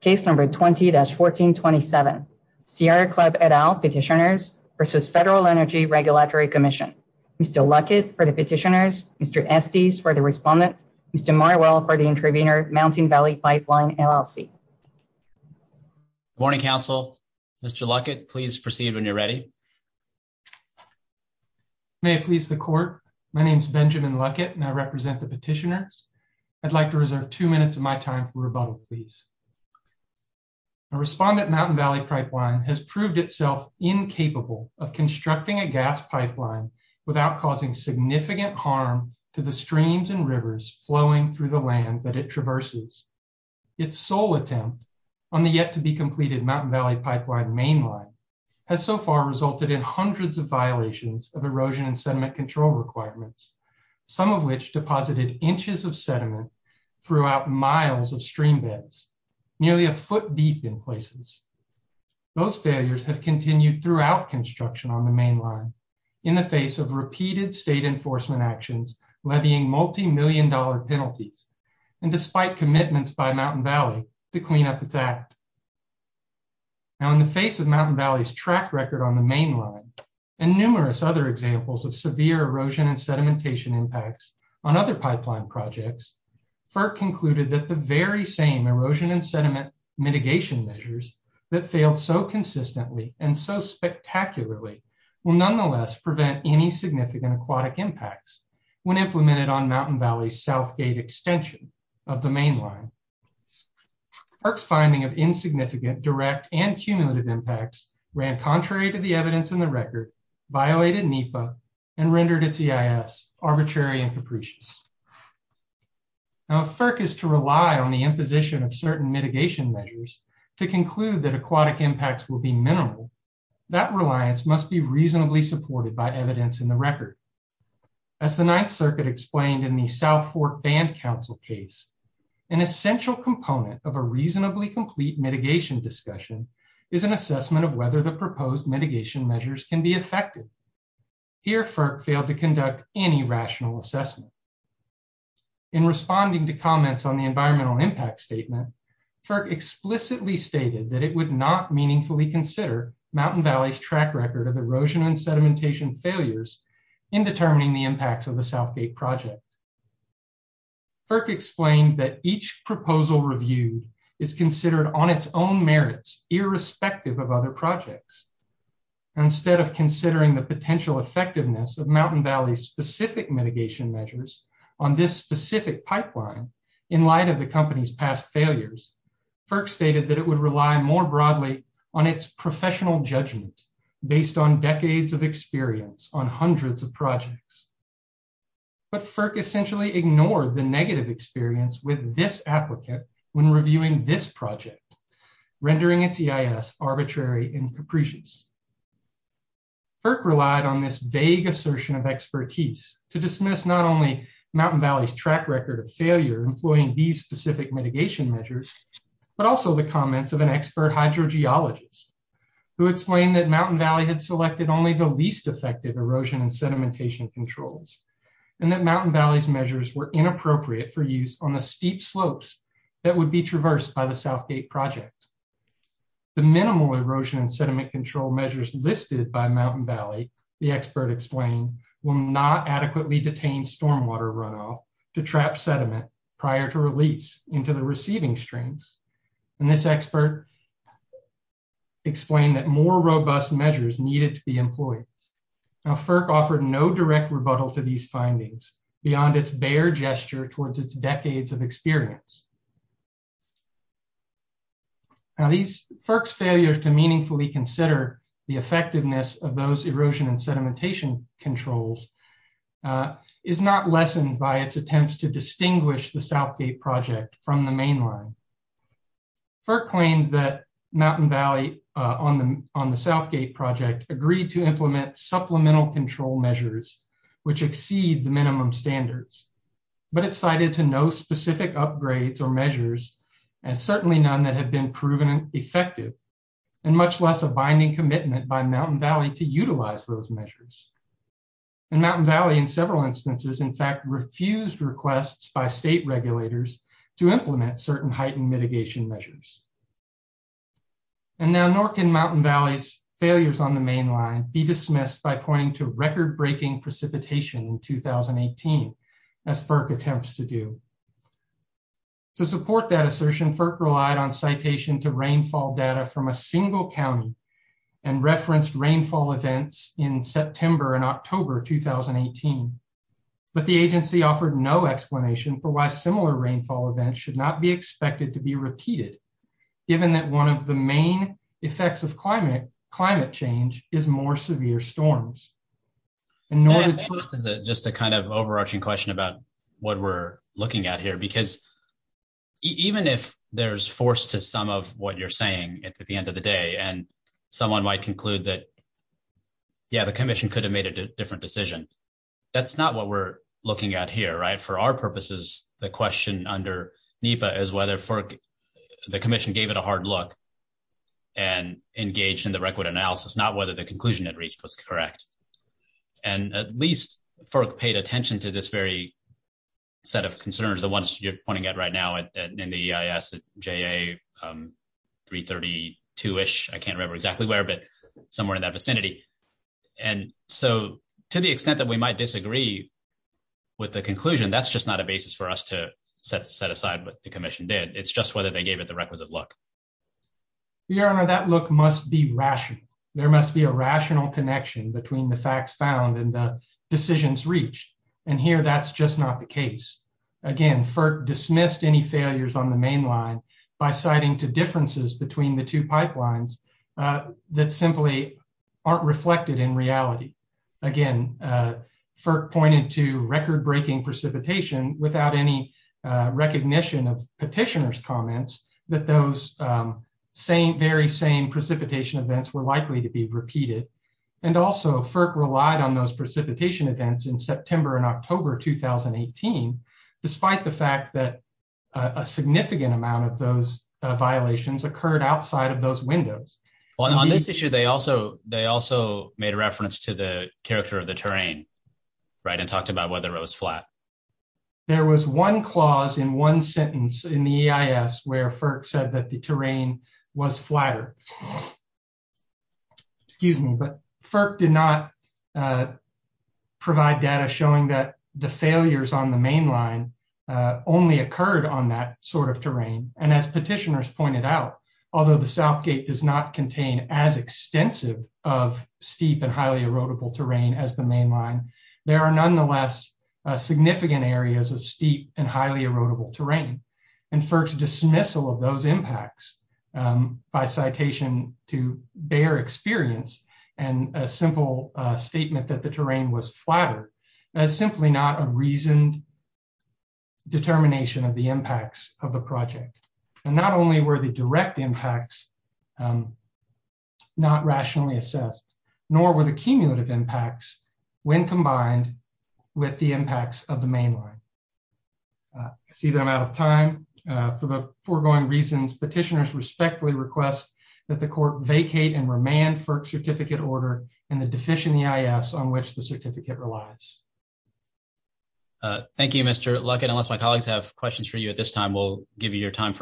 Case number 20-1427, Sierra Club et al petitioners versus Federal Energy Regulatory Commission. Mr. Luckett for the petitioners, Mr. Estes for the respondent, Mr. Marwell for the intervener, Mountain Valley Pipeline LLC. Good morning, Council. Mr. Luckett, please proceed when you're ready. May it please the court, my name is Benjamin Luckett and I represent the petitioners. I'd like to reserve two minutes of my time for rebuttal, please. The respondent Mountain Valley Pipeline has proved itself incapable of constructing a gas pipeline without causing significant harm to the streams and rivers flowing through the land that it traverses. Its sole attempt on the yet-to-be-completed Mountain Valley Pipeline mainline has so far resulted in hundreds of violations of erosion and sediment control requirements, some of which deposited inches of sediment throughout miles of streambeds nearly a foot deep in places. Those failures have continued throughout construction on the mainline in the face of repeated state enforcement actions levying multi-million dollar penalties and despite commitments by Mountain Valley to clean up its act. Now in the face of Mountain Valley's track record on the mainline and numerous other examples of severe erosion and sediment impacts on other pipeline projects, FERC concluded that the very same erosion and sediment mitigation measures that failed so consistently and so spectacularly will nonetheless prevent any significant aquatic impacts when implemented on Mountain Valley's south gate extension of the mainline. FERC's finding of insignificant direct and cumulative impacts ran contrary to evidence in the record, violated NEPA, and rendered its EIS arbitrary and capricious. Now if FERC is to rely on the imposition of certain mitigation measures to conclude that aquatic impacts will be minimal, that reliance must be reasonably supported by evidence in the record. As the Ninth Circuit explained in the South Fork Band Council case, an essential component of a can be effective. Here FERC failed to conduct any rational assessment. In responding to comments on the environmental impact statement, FERC explicitly stated that it would not meaningfully consider Mountain Valley's track record of erosion and sedimentation failures in determining the impacts of the south gate project. FERC explained that each proposal reviewed is considered on its own and instead of considering the potential effectiveness of Mountain Valley's specific mitigation measures on this specific pipeline in light of the company's past failures, FERC stated that it would rely more broadly on its professional judgment based on decades of experience on hundreds of projects. But FERC essentially ignored the negative experience with this applicant when reviewing this project, rendering its EIS arbitrary and capricious. FERC relied on this vague assertion of expertise to dismiss not only Mountain Valley's track record of failure employing these specific mitigation measures, but also the comments of an expert hydrogeologist who explained that Mountain Valley had selected only the least effective erosion and sedimentation controls and that Mountain Valley's measures were inappropriate for use on the steep slopes that would be traversed by the south gate project. The minimal erosion and sediment control measures listed by Mountain Valley, the expert explained, will not adequately detain stormwater runoff to trap sediment prior to release into the receiving streams. And this expert explained that more robust measures needed to be employed. Now FERC offered no direct rebuttal to these findings beyond its bare gesture towards its decades of experience. Now, FERC's failure to meaningfully consider the effectiveness of those erosion and sedimentation controls is not lessened by its attempts to distinguish the south gate project from the mainline. FERC claims that Mountain Valley on the south gate project agreed to implement supplemental control measures which exceed the minimum standards, but it cited to no specific upgrades or measures, and certainly none that have been proven effective, and much less a binding commitment by Mountain Valley to utilize those measures. And Mountain Valley in several instances in fact refused requests by state regulators to implement certain heightened mitigation measures. And now NORC and Mountain Valley's failures on the mainline be dismissed by pointing to To support that assertion, FERC relied on citation to rainfall data from a single county and referenced rainfall events in September and October 2018. But the agency offered no explanation for why similar rainfall events should not be expected to be repeated, given that one of the main effects of climate change is more severe storms. And just a kind of overarching question about what we're looking at here, because even if there's force to some of what you're saying at the end of the day and someone might conclude that, yeah, the commission could have made a different decision, that's not what we're looking at here, right? For our purposes, the question under NEPA is whether the commission gave it a hard look and engaged in the record analysis, not whether the conclusion it reached was correct. And at least FERC paid attention to this very set of concerns, the ones you're pointing at right now in the EIS at JA 332-ish, I can't remember exactly where, but somewhere in that vicinity. And so to the extent that we might disagree with the conclusion, that's just not a basis for us to set aside what the commission did. It's just whether they gave it the requisite look. Your Honor, that look must be rational. There must be a rational connection between the facts found and the decisions reached. And here that's just not the case. Again, FERC dismissed any failures on the mainline by citing two differences between the two pipelines that simply aren't reflected in reality. Again, FERC pointed to record-breaking precipitation without any recognition of very same precipitation events were likely to be repeated. And also, FERC relied on those precipitation events in September and October 2018, despite the fact that a significant amount of those violations occurred outside of those windows. On this issue, they also made a reference to the character of the terrain, right, and talked about whether it was flat. There was one clause in sentence in the EIS where FERC said that the terrain was flatter. Excuse me, but FERC did not provide data showing that the failures on the mainline only occurred on that sort of terrain. And as petitioners pointed out, although the Southgate does not contain as extensive of steep and highly erodible terrain as the mainline, there are nonetheless significant areas of steep and erodible terrain. And FERC's dismissal of those impacts by citation to bare experience and a simple statement that the terrain was flatter is simply not a reasoned determination of the impacts of the project. And not only were the direct impacts not rationally assessed, nor were the cumulative impacts when combined with the impacts of the mainline. I see that I'm out of time. For the foregoing reasons, petitioners respectfully request that the court vacate and remand FERC certificate order and the deficient EIS on which the certificate relies. Thank you, Mr. Luckett. Unless my colleagues have questions for you at this time, we'll Your honors,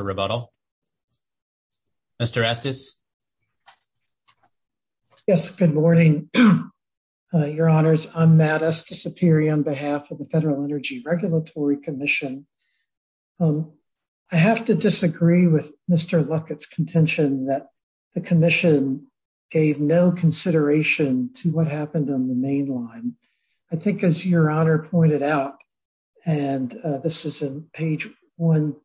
I'm Matt Estesapiri on behalf of the Federal Energy Regulatory Commission. I have to disagree with Mr. Luckett's contention that the commission gave no consideration to what happened on the mainline. I think as your honor pointed out, and this is in page 1-12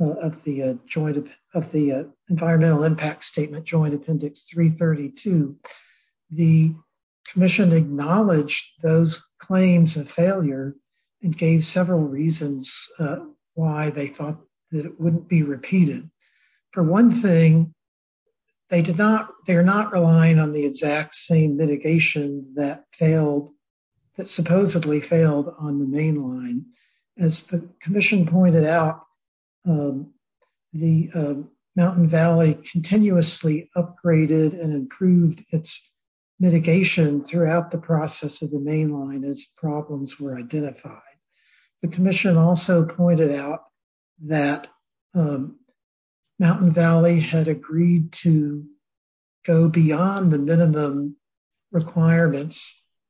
of the environmental impact statement joint appendix 332, the commission acknowledged those claims of failure and gave several reasons why they thought that it wouldn't be repeated. For one thing, they're not relying on the exact same mitigation that failed, that supposedly failed on the mainline. As the commission pointed out, the Mountain Valley continuously upgraded and improved its mitigation throughout the process of the mainline as problems were identified. The commission also pointed out that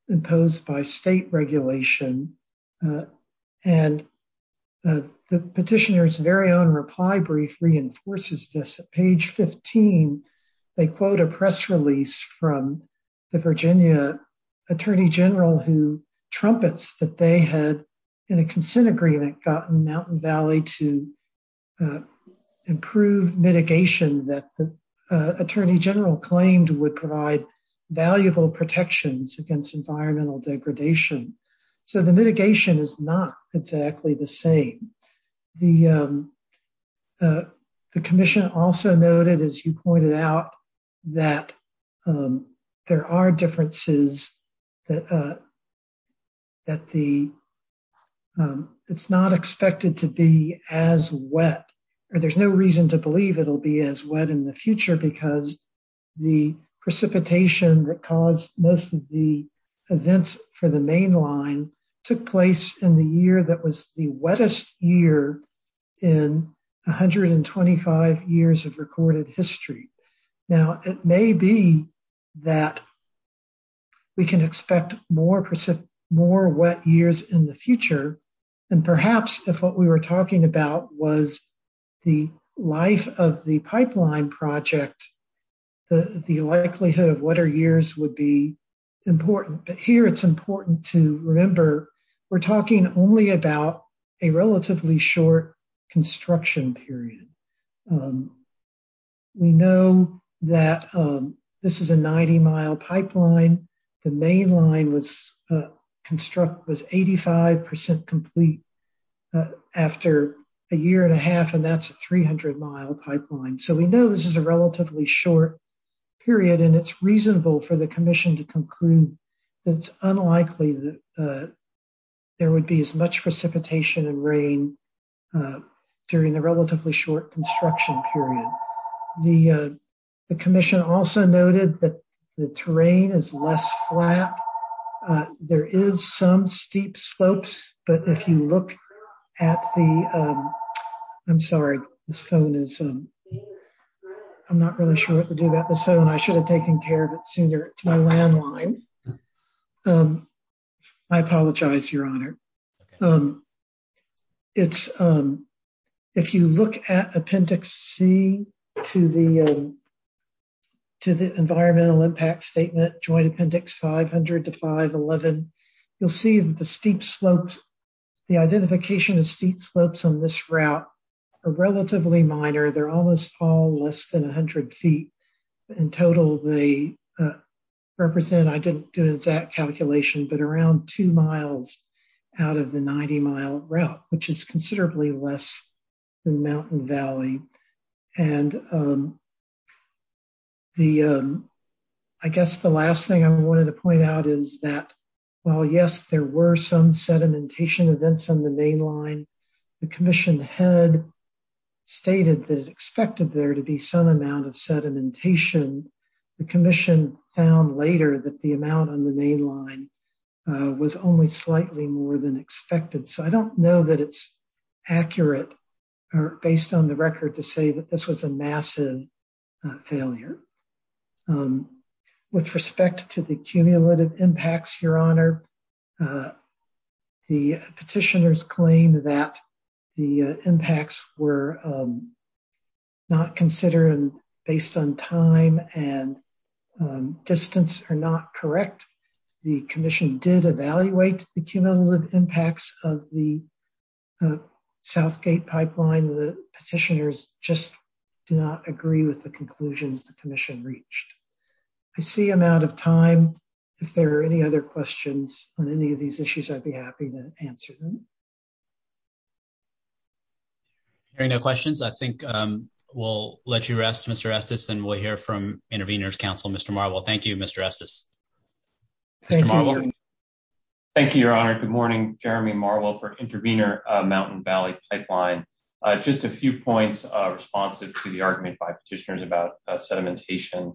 imposed by state regulation and the petitioner's very own reply brief reinforces this. At page 15, they quote a press release from the Virginia Attorney General who trumpets that they had in a consent agreement gotten Mountain Valley to improve mitigation that the against environmental degradation. So the mitigation is not exactly the same. The commission also noted, as you pointed out, that there are differences that it's not expected to be as wet, or there's no reason to believe it'll be as wet in the future because the precipitation that caused most of the events for the mainline took place in the year that was the wettest year in 125 years of recorded history. Now, it may be that we can expect more wet years in the future, and perhaps if what we were talking about was the life of the pipeline project, the likelihood of wetter years would be important, but here it's important to remember we're talking only about a relatively short construction period. We know that this is a 90-mile pipeline. The mainline was constructed, was 85 percent complete after a year and a half, and that's a 300-mile pipeline. So we know this is a relatively short period, and it's reasonable for the commission to conclude that it's unlikely that there would be as much precipitation and rain during the relatively short construction period. The commission also noted that the terrain is less flat. There is some steep slopes, but if you look at the... I'm sorry, this phone is... I'm not really sure what to do about this phone. I should have taken care of it sooner. It's my landline. I apologize, Your Honor. If you look at Appendix C to the 500 to 511, you'll see that the steep slopes, the identification of steep slopes on this route are relatively minor. They're almost all less than 100 feet. In total, they represent... I didn't do an exact calculation, but around two miles out of the 90-mile route, which is considerably less than Mountain Valley. And I guess the last thing I wanted to point out is that while, yes, there were some sedimentation events on the mainline, the commission had stated that it expected there to be some amount of sedimentation. The commission found later that the amount on the based on the record to say that this was a massive failure. With respect to the cumulative impacts, Your Honor, the petitioners claim that the impacts were not considered based on time and distance are not correct. The commission did evaluate the cumulative impacts of the Southgate pipeline. The petitioners just do not agree with the conclusions the commission reached. I see I'm out of time. If there are any other questions on any of these issues, I'd be happy to answer them. Hearing no questions, I think we'll let you rest, Mr. Estes, and we'll hear from Intervenors Council. Mr. Marwell, thank you, Mr. Estes. Thank you, Your Honor. Good morning, Jeremy Marwell for Intervenor Mountain Valley Pipeline. Just a few points responsive to the argument by petitioners about sedimentation.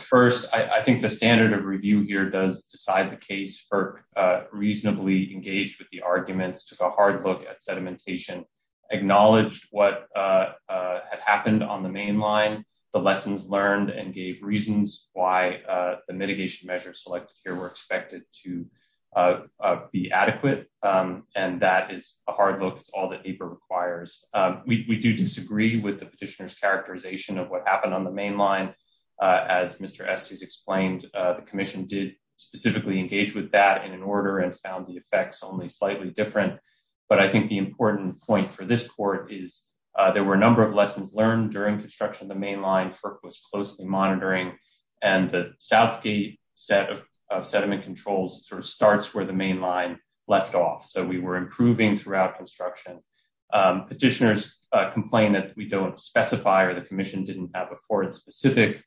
First, I think the standard of review here does decide the case for reasonably engaged with the arguments, took a hard look at sedimentation, acknowledged what had happened on the mainline, the lessons learned, and gave reasons why the and that is a hard look. It's all that APER requires. We do disagree with the petitioner's characterization of what happened on the mainline. As Mr. Estes explained, the commission did specifically engage with that in an order and found the effects only slightly different, but I think the important point for this court is there were a number of lessons learned during construction of the mainline FERC was closely monitoring, and the Southgate set of sediment controls sort of starts where the mainline left off, so we were improving throughout construction. Petitioners complain that we don't specify or the commission didn't have afforded specific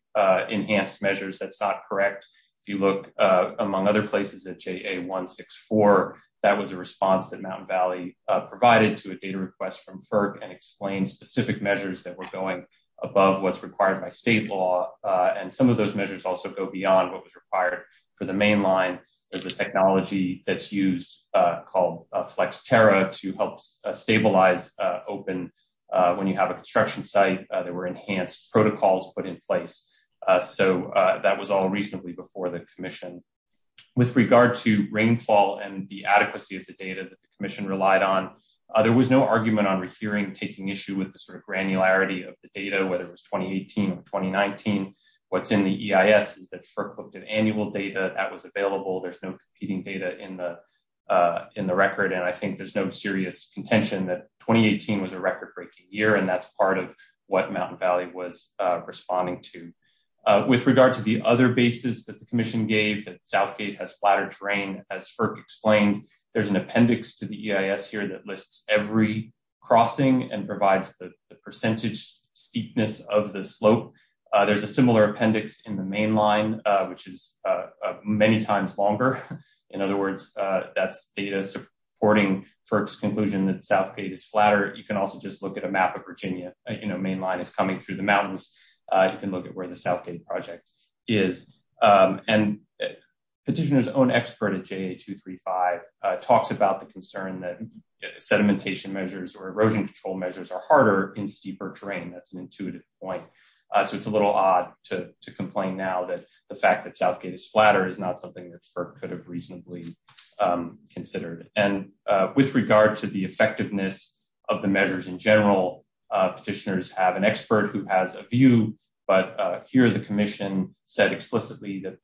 enhanced measures. That's not correct. If you look among other places at JA-164, that was a response that Mountain Valley provided to a data request from FERC and explained specific measures that were going above what's required by state law, and some of those measures also go beyond what was required for the mainline. There's a technology that's used called FlexTERRA to help stabilize open when you have a construction site. There were enhanced protocols put in place, so that was all reasonably before the commission. With regard to rainfall and the adequacy of the data that the commission relied on, there was no argument on rehearing taking issue with the granularity of the data, whether it was 2018 or 2019. What's in the EIS is that FERC looked at annual data that was available. There's no competing data in the record, and I think there's no serious contention that 2018 was a record-breaking year, and that's part of what Mountain Valley was responding to. With regard to the other basis that the commission gave, that Southgate has flatter terrain, as FERC explained, there's an appendix to the EIS here that lists every crossing and provides the percentage steepness of the slope. There's a similar appendix in the mainline, which is many times longer. In other words, that's data supporting FERC's conclusion that Southgate is flatter. You can also just look at a map of Virginia, you know, mainline is coming through the mountains. You can look at where the Southgate project is. Petitioner's own expert at JA-235 talks about the concern that sedimentation measures or erosion control measures are harder in steeper terrain. That's an intuitive point, so it's a little odd to complain now that the fact that Southgate is flatter is not something that FERC could have reasonably considered. With regard to the effectiveness of the measures in general, petitioners have an expert who has a view, but here the commission said explicitly that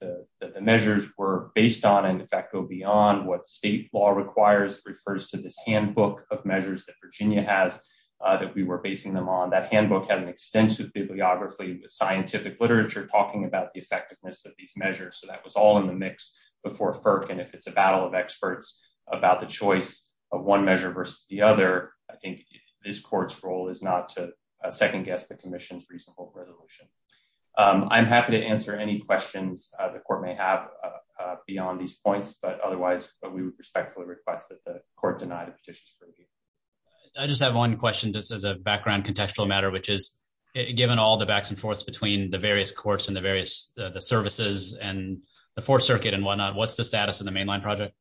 the measures were based on and, in fact, go beyond what state law requires, refers to this handbook of measures that Virginia has that we were basing them on. That handbook has an extensive bibliography with scientific literature talking about the effectiveness of these measures, so that was all in the mix before FERC, and if it's a battle of experts about the choice of one measure versus the other, I think this court's role is not to second-guess the commission's reasonable resolution. I'm happy to answer any questions the court may have beyond these points, but otherwise we would respectfully request that the court deny the petitions for review. I just have one question, just as a background contextual matter, which is given all the backs and forths between the various courts and the various services and the fourth circuit and whatnot, what's the status of the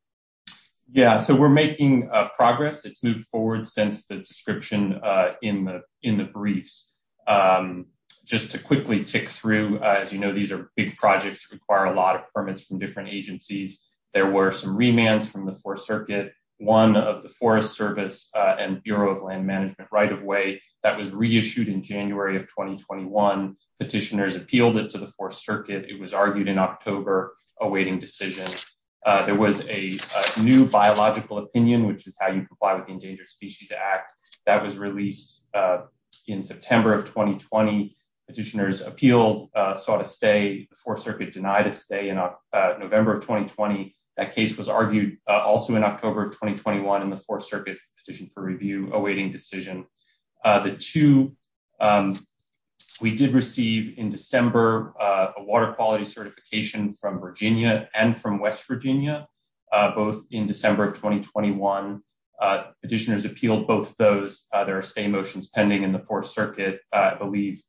forward since the description in the briefs? Just to quickly tick through, as you know, these are big projects that require a lot of permits from different agencies. There were some remands from the fourth circuit, one of the Forest Service and Bureau of Land Management right-of-way that was reissued in January of 2021. Petitioners appealed it to the fourth circuit. It was argued in October, awaiting decision. There was a new biological opinion, which is how you comply with the Endangered Species Act, that was released in September of 2020. Petitioners appealed, sought a stay. The fourth circuit denied a stay in November of 2020. That case was argued also in October of 2021 in the fourth circuit petition for review awaiting decision. The two we did in December, a water quality certification from Virginia and from West Virginia, both in December of 2021. Petitioners appealed both of those. There are stay motions pending in the fourth circuit. I believe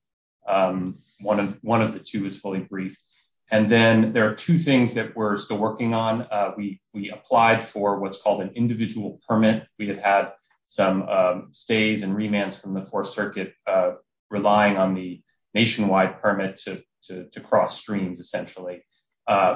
one of the two is fully briefed. And then there are two things that we're still working on. We applied for what's called an individual permit. We had had some stays and remands from the fourth circuit relying on the nationwide permit to cross streams, essentially.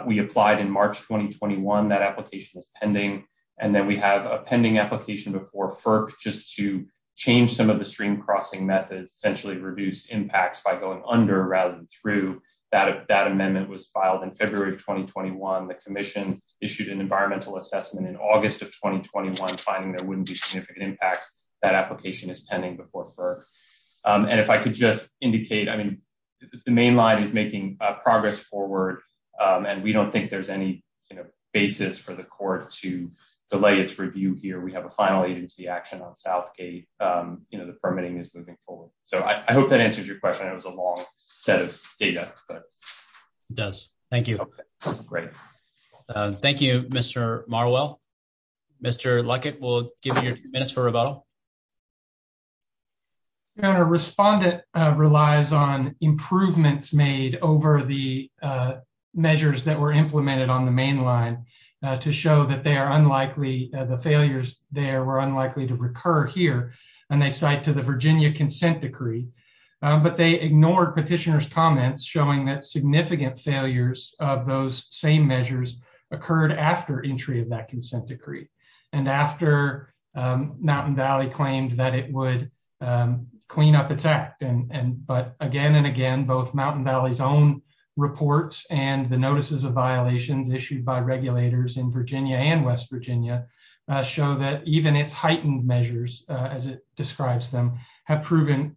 We applied in March 2021. That application is pending. And then we have a pending application before FERC just to change some of the stream crossing methods, essentially reduce impacts by going under rather than through. That amendment was filed in February of 2021. The commission issued an environmental assessment in August of 2021, finding there wouldn't be significant impacts. That application is pending before FERC. And if I could just indicate, I mean, the main line is making progress forward. And we don't think there's any, you know, basis for the court to delay its review here. We have a final agency action on Southgate. You know, the permitting is moving forward. So I hope that answers your question. It was a long set of data. It does. Thank you. Great. Thank you, Mr. Marwell. Mr. Luckett, we'll give you your minutes for rebuttal. Your Honor, Respondent relies on improvements made over the measures that were implemented on the main line to show that they are unlikely, the failures there were unlikely to recur here. And they cite to the Virginia consent decree. But they ignored petitioner's significant failures of those same measures occurred after entry of that consent decree. And after Mountain Valley claimed that it would clean up its act. But again and again, both Mountain Valley's own reports and the notices of violations issued by regulators in Virginia and West Virginia show that even its heightened measures, as it describes them, have proven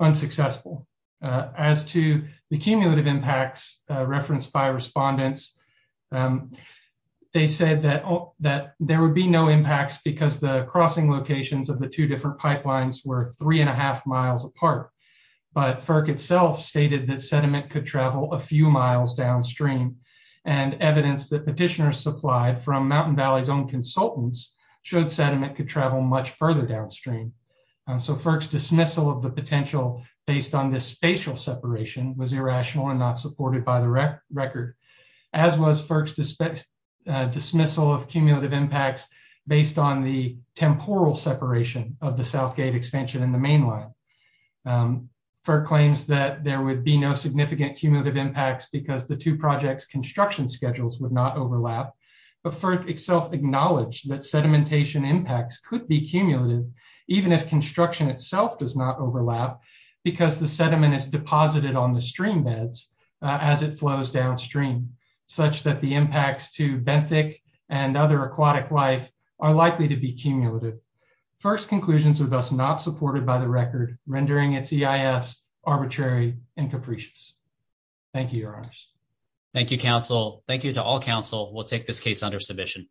unsuccessful. As to the cumulative impacts referenced by respondents, they said that there would be no impacts because the crossing locations of the two different pipelines were three and a half miles apart. But FERC itself stated that sediment could travel a few miles downstream. And evidence that petitioners supplied from Mountain Valley's consultants showed sediment could travel much further downstream. So FERC's dismissal of the potential based on this spatial separation was irrational and not supported by the record. As was FERC's dismissal of cumulative impacts based on the temporal separation of the South Gate extension and the main line. FERC claims that there would be no significant cumulative impacts because the two projects construction schedules would not overlap. But FERC itself acknowledged that sedimentation impacts could be cumulative even if construction itself does not overlap because the sediment is deposited on the stream beds as it flows downstream, such that the impacts to benthic and other aquatic life are likely to be cumulative. FERC's conclusions are thus not supported by the record, rendering its EIS arbitrary and capricious. Thank you, your honors. Thank you, counsel. Thank you to all counsel. We'll take this case under submission.